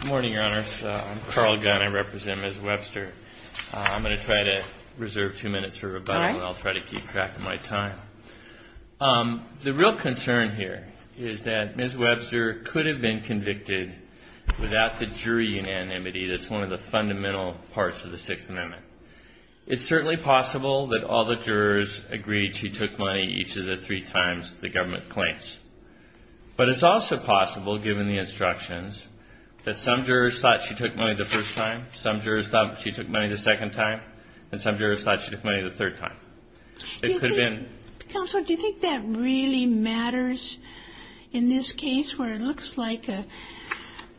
Good morning, Your Honors. I'm Carl Gunn. I represent Ms. Webster. I'm going to try to reserve two minutes for rebuttal, and I'll try to keep track of my time. The real concern here is that Ms. Webster could have been convicted without the jury unanimity that's one of the fundamental parts of the Sixth Amendment. It's certainly possible that all the jurors agreed she took money each of the three times the government claims. But it's also possible, given the instructions, that some jurors thought she took money the first time, some jurors thought she took money the second time, and some jurors thought she took money the third time. It could have been... CINDY Counselor, do you think that really matters in this case where it looks like a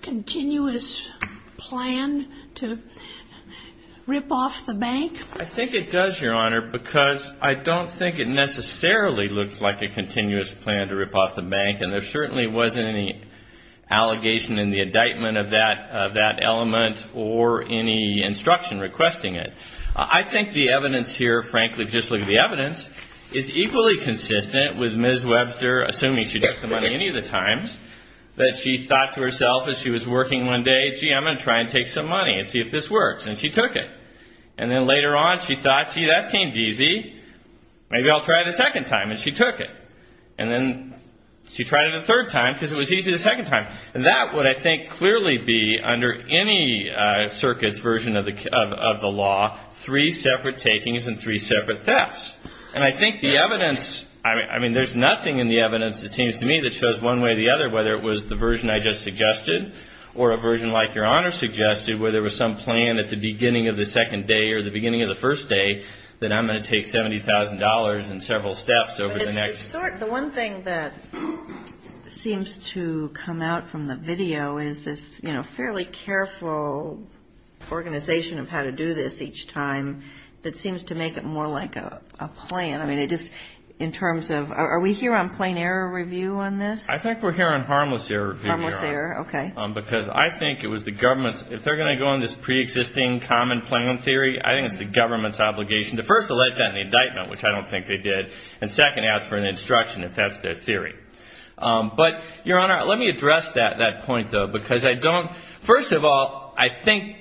continuous plan to rip off the bank? CARL GUNN I think it does, Your Honor, because I don't think it necessarily looks like a continuous plan to rip off the bank, and there certainly wasn't any allegation in the indictment of that element or any instruction requesting it. I think the evidence here, frankly, just look at the evidence, is equally consistent with Ms. Webster, assuming she took the money any of the times, that she thought to herself as she was working one day, gee, I'm going to try and take some money and see if this works, and she took it. And then later on, she thought, gee, that seemed easy, maybe I'll try it a second time, and she took it. And then she tried it a third time because it was easy the second time. And that would, I think, clearly be, under any circuit's version of the law, three separate takings and three separate thefts. And I think the evidence, I mean, there's nothing in the evidence, it seems to me, that shows one way or the other whether it was the version I just suggested or a version like Your Honor suggested where there was some plan at the beginning of the second day or the beginning of the first day that I'm going to take $70,000 and several steps over the next. But it's the sort, the one thing that seems to come out from the video is this, you know, fairly careful organization of how to do this each time that seems to make it more like a plan. I mean, it just, in terms of, are we here on plain error review on this? I think we're here on harmless error review. Harmless error, okay. Because I think it was the government's, if they're going to go on this preexisting common plan theory, I think it's the government's obligation to first allege that in the indictment, which I don't think they did, and second, ask for an instruction if that's their theory. But Your Honor, let me address that point, though, because I don't, first of all, I think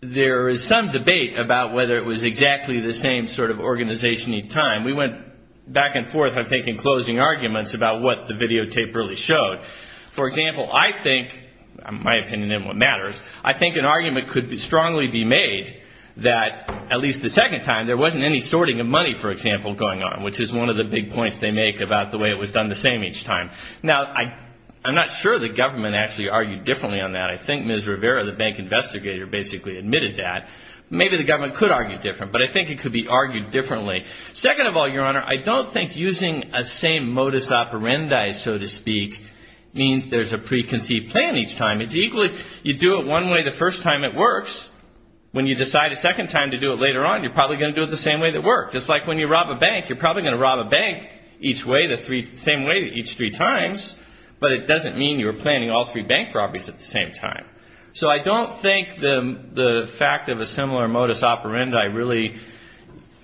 there is some debate about whether it was exactly the same sort of organization each time. We went back and forth, I think, in closing arguments about what the videotape really showed. For example, I think, my opinion and what matters, I think an argument could strongly be made that at least the second time there wasn't any sorting of money, for example, going on, which is one of the big points they make about the way it was done the same each time. Now, I'm not sure the government actually argued differently on that. I think Ms. Rivera, the bank investigator, basically admitted that. Maybe the government could argue different, but I think it could be argued differently. Second of all, Your Honor, I don't think using a same modus operandi, so to speak, means there's a preconceived plan each time. It's equally, you do it one way the first time, it works. When you decide a second time to do it later on, you're probably going to do it the same way that worked. Just like when you rob a bank, you're probably going to rob a bank each way, the same way each three times, but it doesn't mean you're planning all three bank robberies at the same time. So I don't think the fact of a similar modus operandi really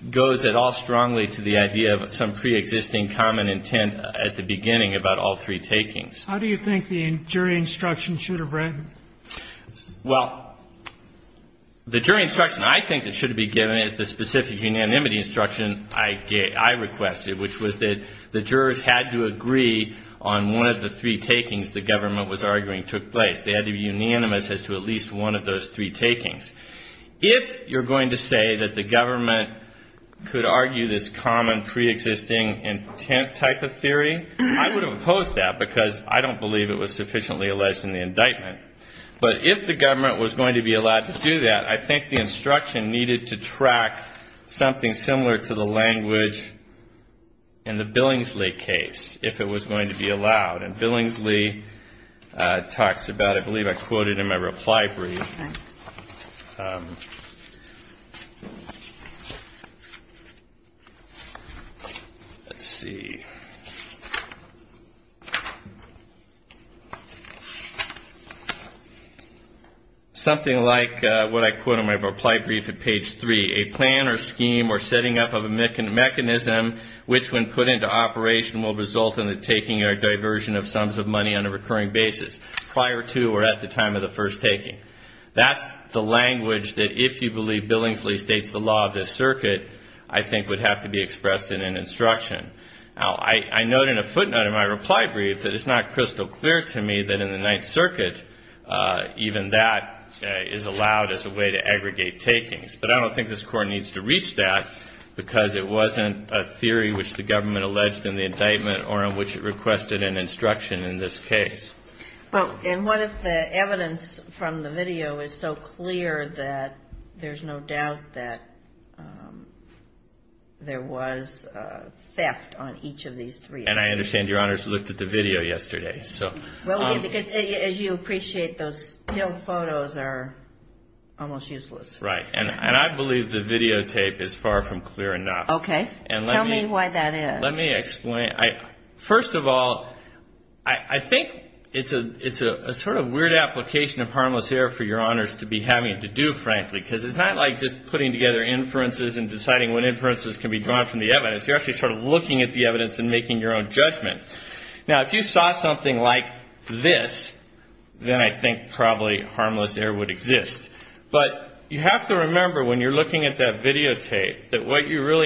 goes at all strongly to the idea of some preexisting common intent at the beginning about all three takings. How do you think the jury instruction should have read? Well, the jury instruction I think that should have been given is the specific unanimity instruction I requested, which was that the jurors had to agree on one of the three takings the government was arguing took place. They had to be unanimous as to at least one of those three takings. If you're going to say that the government could argue this common preexisting intent type of theory, I would have opposed that because I don't believe it was sufficiently alleged in the indictment. But if the government was going to be allowed to do that, I think the instruction needed to track something similar to the language in the Billingsley case, if it was going to be allowed. And Billingsley talks about, I believe I quoted in my reply brief, let's see, something like what I quote in my reply brief at page three. A plan or scheme or setting up of a mechanism which when put into operation will result in the taking or diversion of sums of money on a recurring basis prior to or at the time of the first taking. That's the language that if you believe Billingsley states the law of this circuit, I think would have to be expressed in an instruction. Now I note in a footnote in my reply brief that it's not crystal clear to me that in the Ninth Circuit even that is allowed as a way to aggregate takings. But I don't think this Court needs to reach that because it wasn't a theory which the requested an instruction in this case. Well, and what if the evidence from the video is so clear that there's no doubt that there was theft on each of these three? And I understand Your Honors looked at the video yesterday, so. Well, because as you appreciate, those still photos are almost useless. Right. And I believe the videotape is far from clear enough. Okay. Tell me why that is. Well, let me explain. First of all, I think it's a sort of weird application of harmless error for Your Honors to be having to do, frankly, because it's not like just putting together inferences and deciding what inferences can be drawn from the evidence. You're actually sort of looking at the evidence and making your own judgment. Now if you saw something like this, then I think probably harmless error would exist. But you have to remember when you're looking at that videotape that what you're really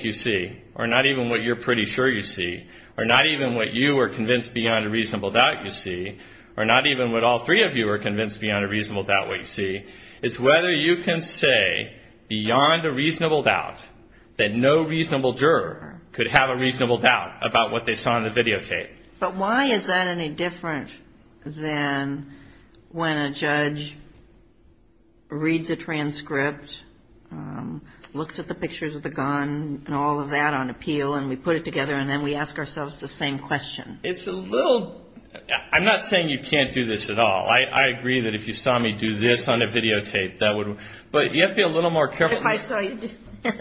you see, or not even what you're pretty sure you see, or not even what you are convinced beyond a reasonable doubt you see, or not even what all three of you are convinced beyond a reasonable doubt what you see, is whether you can say beyond a reasonable doubt that no reasonable juror could have a reasonable doubt about what they saw in the videotape. But why is that any different than when a judge reads a transcript, looks at the pictures of the gun, and all of that on appeal, and we put it together, and then we ask ourselves the same question? It's a little, I'm not saying you can't do this at all. I agree that if you saw me do this on a videotape, that would, but you have to be a little more careful. What if I saw you do this? What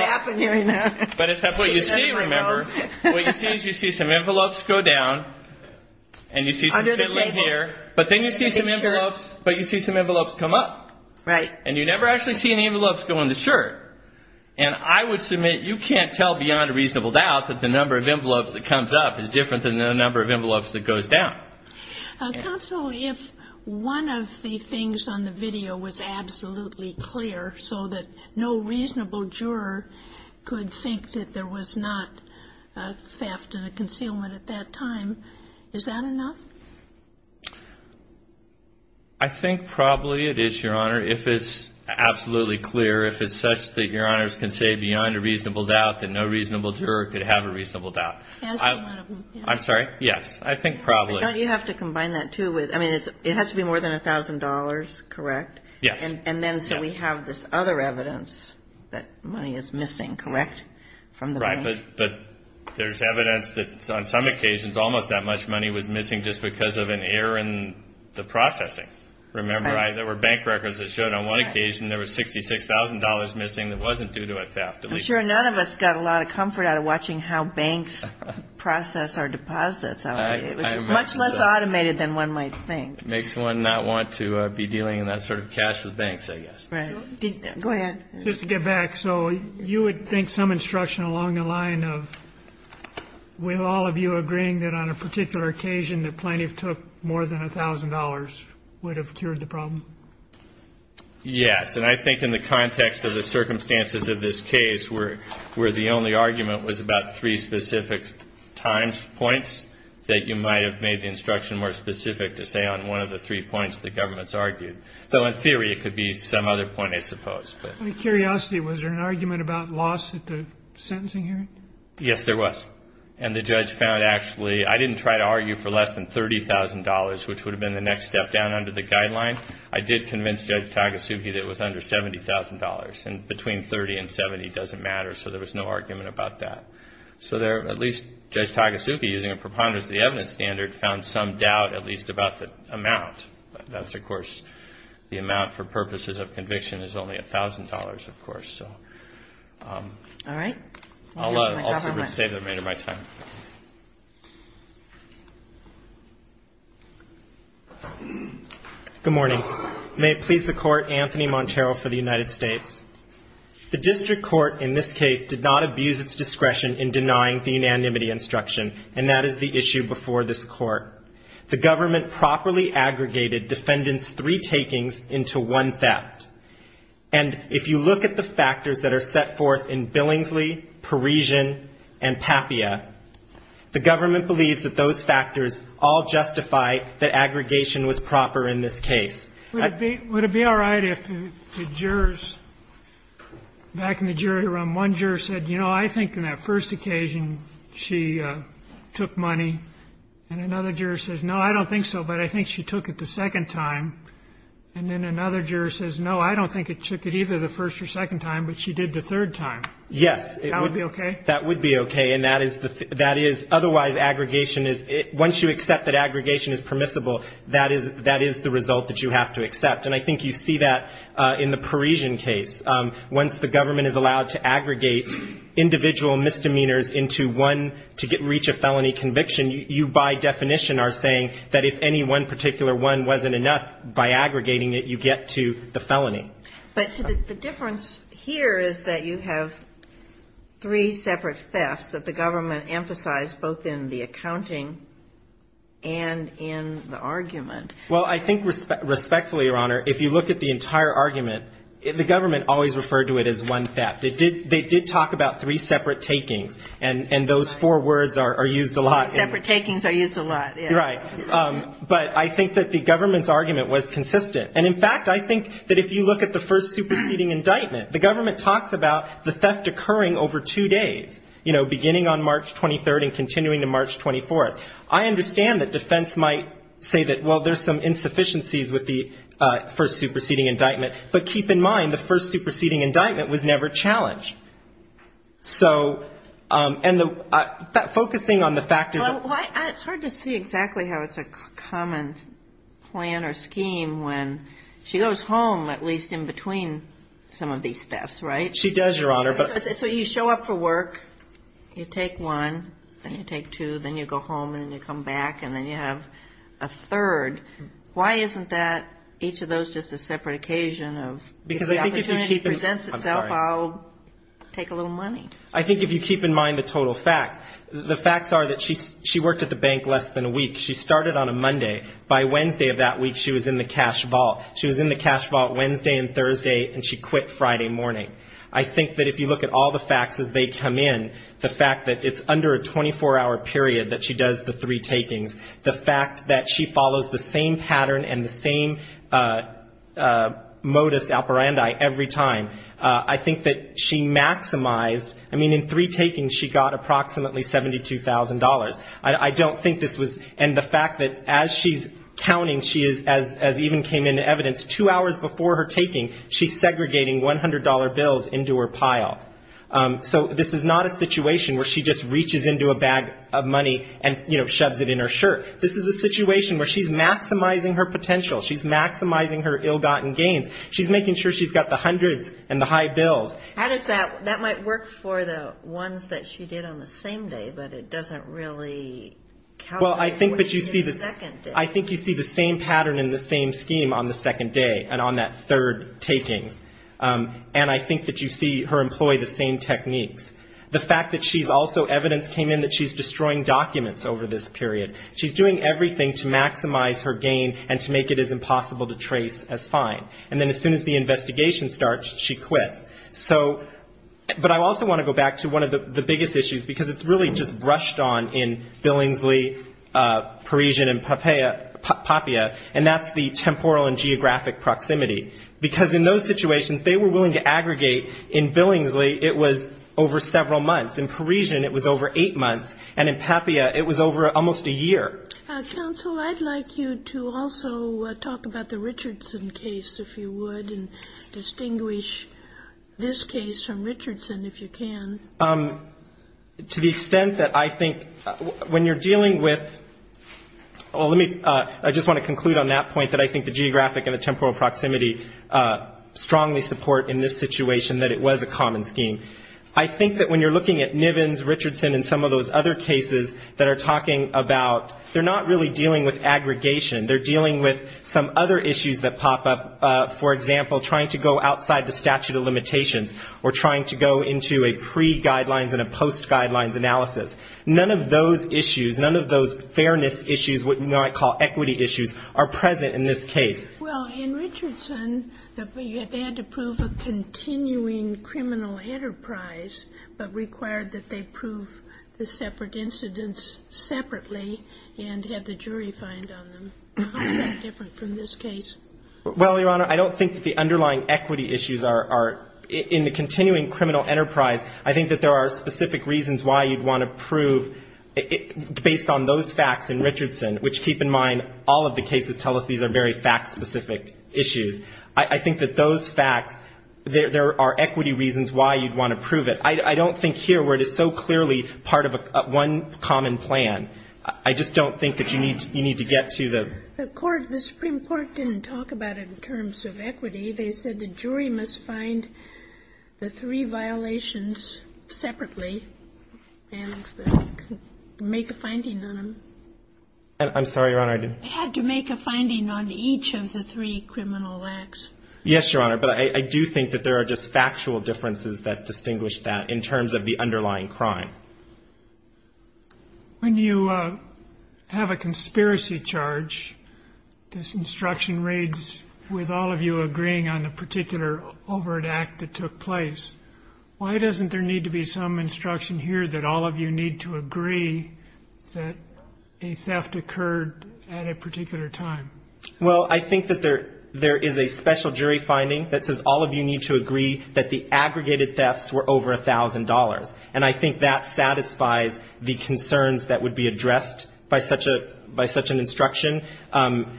happened here? But it's what you see, remember. What you see is you see some envelopes go down, and you see some fiddling here, but then you see some envelopes, but you see some envelopes come up, and you never actually see any envelopes go in the shirt. And I would submit you can't tell beyond a reasonable doubt that the number of envelopes that comes up is different than the number of envelopes that goes down. Counsel, if one of the things on the video was absolutely clear so that no reasonable juror could think that there was not theft and a concealment at that time, is that enough? I think probably it is, Your Honor. If it's absolutely clear, if it's such that Your Honors can say beyond a reasonable doubt that no reasonable juror could have a reasonable doubt. Can I say one of them? I'm sorry? Yes. I think probably. Don't you have to combine that, too, with, I mean, it has to be more than $1,000, correct? Yes. And then so we have this other evidence that money is missing, correct, from the bank? Right. But there's evidence that on some occasions almost that much money was missing just because of an error in the processing. Remember? Right. There were bank records that showed on one occasion there was $66,000 missing that wasn't due to a theft. I'm sure none of us got a lot of comfort out of watching how banks process our deposits. It was much less automated than one might think. It makes one not want to be dealing in that sort of cash with banks, I guess. Right. Go ahead. Just to get back. So you would think some instruction along the line of with all of you agreeing that on a particular occasion the plaintiff took more than $1,000 would have cured the problem? Yes. And I think in the context of the circumstances of this case where the only argument was about three specific times, points, that you might have made the instruction more specific to say on one of the three points the government's argued. So in theory it could be some other point, I suppose. Out of curiosity, was there an argument about loss at the sentencing hearing? Yes, there was. And the judge found actually, I didn't try to argue for less than $30,000, which would have been the next step down under the guideline. I did convince Judge Tagasugi that it was under $70,000. And between $30,000 and $70,000 doesn't matter, so there was no argument about that. So at least Judge Tagasugi, using a preponderance of the evidence standard, found some doubt at least about the amount. That's, of course, the amount for purposes of conviction is only $1,000, of course. All right. I'll save the remainder of my time. Good morning. May it please the Court, Anthony Montero for the United States. The district court in this case did not abuse its discretion in denying the unanimity instruction, and that is the issue before this Court. The government properly aggregated defendants' three takings into one theft. And if you look at the factors that are set forth in Billingsley, Parisian, and Papia, the government believes that those factors all justify that aggregation was proper in this case. Would it be all right if the jurors, back in the jury room, one juror said, you know, I think on that first occasion she took money, and another juror says, no, I don't think so, but I think she took it the first or second time, but she did the third time. Yes. That would be okay? That would be okay, and that is otherwise aggregation is, once you accept that aggregation is permissible, that is the result that you have to accept. And I think you see that in the Parisian case. Once the government is allowed to aggregate individual misdemeanors into one to reach a felony conviction, you by definition are saying that if any one particular one wasn't enough, by aggregating it, you get to the felony. But the difference here is that you have three separate thefts that the government emphasized both in the accounting and in the argument. Well, I think respectfully, Your Honor, if you look at the entire argument, the government always referred to it as one theft. They did talk about three separate takings, and those four words are used a lot. Separate takings are used a lot, yes. You're right. But I think that the government's argument was consistent. And, in fact, I think that if you look at the first superseding indictment, the government talks about the theft occurring over two days, you know, beginning on March 23rd and continuing to March 24th. I understand that defense might say that, well, there's some insufficiencies with the first superseding indictment, but keep in mind the first superseding indictment was never challenged. It's hard to see exactly how it's a common plan or scheme when she goes home, at least in between some of these thefts, right? She does, Your Honor. So you show up for work, you take one, then you take two, then you go home and then you come back and then you have a third. Why isn't that, each of those just a separate occasion of if the opportunity presents itself, I'll take a little money? I think if you keep in mind the total facts. The facts are that she worked at the bank less than a week. She started on a Monday. By Wednesday of that week, she was in the cash vault. She was in the cash vault Wednesday and Thursday, and she quit Friday morning. I think that if you look at all the facts as they come in, the fact that it's under a 24-hour period that she does the three takings, the fact that she follows the same pattern and the same modus operandi every time, I think that she would have approximately $72,000. I don't think this was, and the fact that as she's counting, she is, as even came into evidence, two hours before her taking, she's segregating $100 bills into her pile. So this is not a situation where she just reaches into a bag of money and, you know, shoves it in her shirt. This is a situation where she's maximizing her potential. She's maximizing her ill-gotten gains. She's making sure she's got the hundreds and the high bills. How does that, that might work for the ones that she did on the same day, but it doesn't really calculate what she did the second day. Well, I think that you see the same pattern and the same scheme on the second day and on that third takings. And I think that you see her employ the same techniques. The fact that she's also, evidence came in that she's destroying documents over this period. She's doing everything to maximize her gain and to make it as impossible to trace as fine. And then as soon as the investigation starts, she quits. So, but I also want to go back to one of the biggest issues, because it's really just brushed on in Billingsley, Parisian, and Papua. And that's the temporal and geographic proximity. Because in those situations, they were willing to aggregate. In Billingsley, it was over several months. In Parisian, it was over eight months. And in Papua, it was over almost a year. Counsel, I'd like you to also talk about the Richardson case, if you would, and distinguish this case from Richardson, if you can. To the extent that I think when you're dealing with, well, let me, I just want to conclude on that point, that I think the geographic and the temporal proximity strongly support in this situation that it was a common scheme. I think that when you're looking at Nivens, Richardson, and some of those other cases that are talking about, they're not really dealing with aggregation. They're dealing with some other issues that pop up. For example, trying to go outside the statute of limitations or trying to go into a pre-guidelines and a post-guidelines analysis. None of those issues, none of those fairness issues, what you might call equity issues, are present in this case. Well, in Richardson, they had to prove a continuing criminal enterprise, but required that they prove the separate incidents separately. And have the jury find on them. How is that different from this case? Well, Your Honor, I don't think that the underlying equity issues are in the continuing criminal enterprise. I think that there are specific reasons why you'd want to prove, based on those facts in Richardson, which, keep in mind, all of the cases tell us these are very fact-specific issues. I think that those facts, there are equity reasons why you'd want to prove it. I don't think here, where it is so clearly part of one common plan, I just don't think that you need to get to the... The Supreme Court didn't talk about it in terms of equity. They said the jury must find the three violations separately and make a finding on them. I'm sorry, Your Honor, I didn't... They had to make a finding on each of the three criminal acts. Yes, Your Honor, but I do think that there are just factual differences that distinguish that in terms of the underlying crime. When you have a conspiracy charge, this instruction reads, with all of you agreeing on a particular overt act that took place, why doesn't there need to be some instruction here that all of you need to agree that a theft occurred at a particular time? Well, I think that there is a special jury finding that says all of you need to agree that the aggregated thefts were over $1,000. And I think that satisfies the concerns that would be addressed by such an instruction,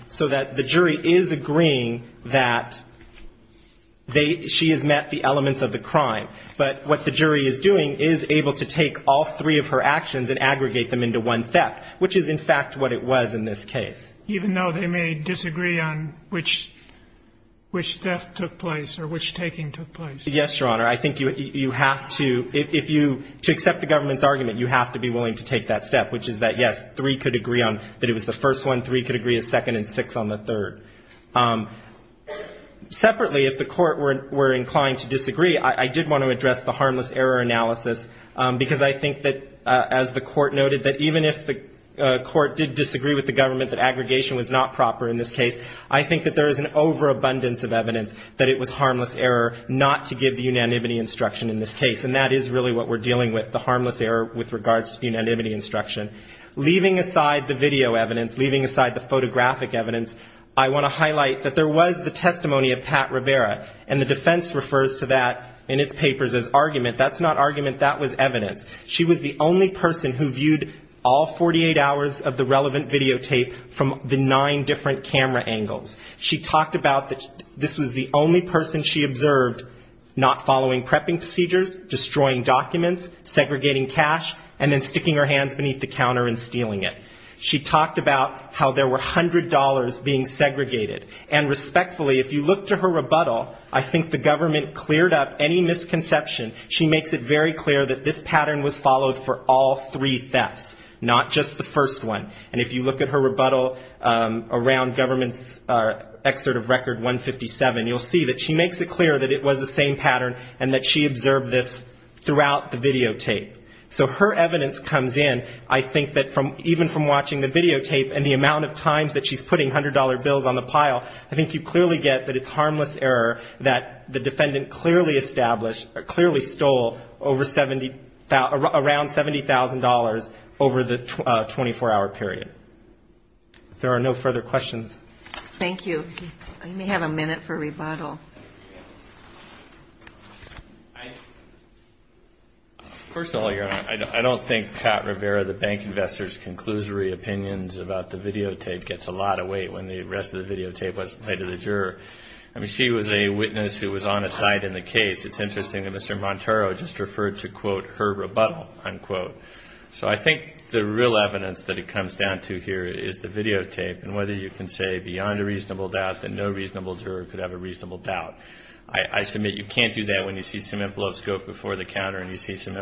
so that the jury is agreeing that she has met the elements of the crime. But what the jury is doing is able to take all three of her actions and aggregate them into one theft, which is, in fact, what it was in this case. Even though they may disagree on which theft took place or which taking took place? Yes, Your Honor. I think you have to, if you, to accept the government's argument, you have to be willing to take that step, which is that, yes, three could agree on that it was the first one, three could agree a second, and six on the third. Separately, if the Court were inclined to disagree, I did want to address the harmless error analysis, because I think that, as the Court noted, that even if the Court did disagree with the government that aggregation was not proper in this case, I think that there is an overabundance of evidence that it was harmless error not to give the unanimity instruction in this case. And that is really what we're dealing with, the harmless error with regards to unanimity instruction. Leaving aside the video evidence, leaving aside the photographic evidence, I want to highlight that there was the testimony of Pat Rivera, and the defense refers to that in its papers as argument. That's not argument, that was evidence. She was the only person who viewed all 48 hours of the relevant videotape from the nine different camera angles. She talked about that this was the only person she observed not following prepping procedures, destroying documents, segregating cash, and then sticking her hands beneath the counter and stealing it. She talked about how there were $100 being segregated. And respectfully, if you look to her rebuttal, I think the government cleared up any misconception. She makes it very clear that this pattern was followed for all three thefts, not just the first one. And if you look at her rebuttal around government's excerpt of Record 157, you'll see that she makes it clear that it was the same pattern and that she observed this throughout the videotape. So her evidence comes in, I think, that even from watching the videotape and the amount of times that she's putting $100 bills on the pile, I think you clearly get that it's harmless error that the defendant clearly established, clearly stole over 70, around $70,000 over the 24-hour period. If there are no further questions. Thank you. I may have a minute for rebuttal. Personally, Your Honor, I don't think Pat Rivera, the bank investor's conclusory opinions about the videotape gets a lot of weight when the rest of the videotape was made to the juror. I mean, she was a witness who was on a side in the case. It's interesting that Mr. Monteiro just referred to, quote, her rebuttal, unquote. So I think the real evidence that it comes down to here is the videotape, and the fact that the videotape was made to the juror. I think that's a very good point. I think that's a very good point. I think that's a very good point. I think that's a very good point. And I just think that's a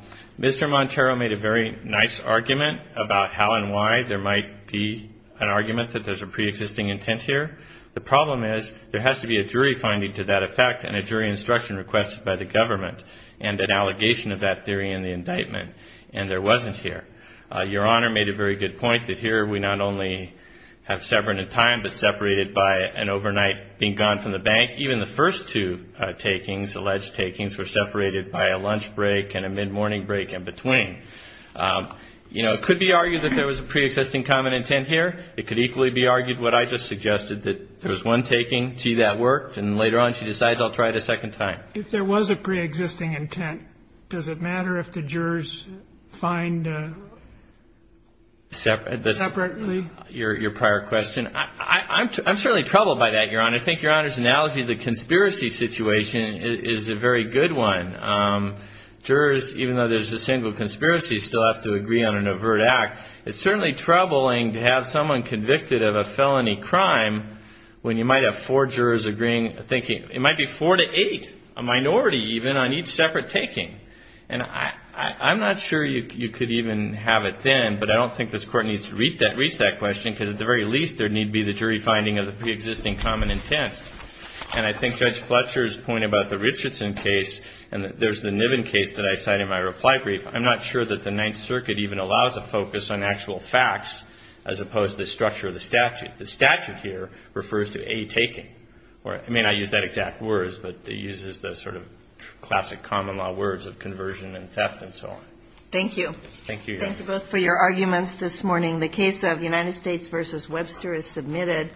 very good point. I think Your Honor's analogy of the conspiracy situation is a very good one. Jurors, even though there's a single conspiracy, still have to agree on an overt act. It's certainly troubling to have someone convicted of a felony crime when you might have four jurors thinking it might be four to eight, a minority even, on each separate taking. And I'm not sure you could even have it then, but I don't think this Court needs to reach that question because at the very least there need be the jury finding of the preexisting common intent. And I think Judge Fletcher's point about the Richardson case and there's the Niven case that I cite in my reply brief, I'm not sure that the Ninth Circuit even allows a focus on actual facts as opposed to the structure of the statute. The statute here refers to a taking. It may not use that exact words, but it uses the sort of classic common law words of conversion and theft and so on. Thank you. Thank you, Your Honor. Thank you both for your arguments this morning. The case of United States v. Webster is submitted.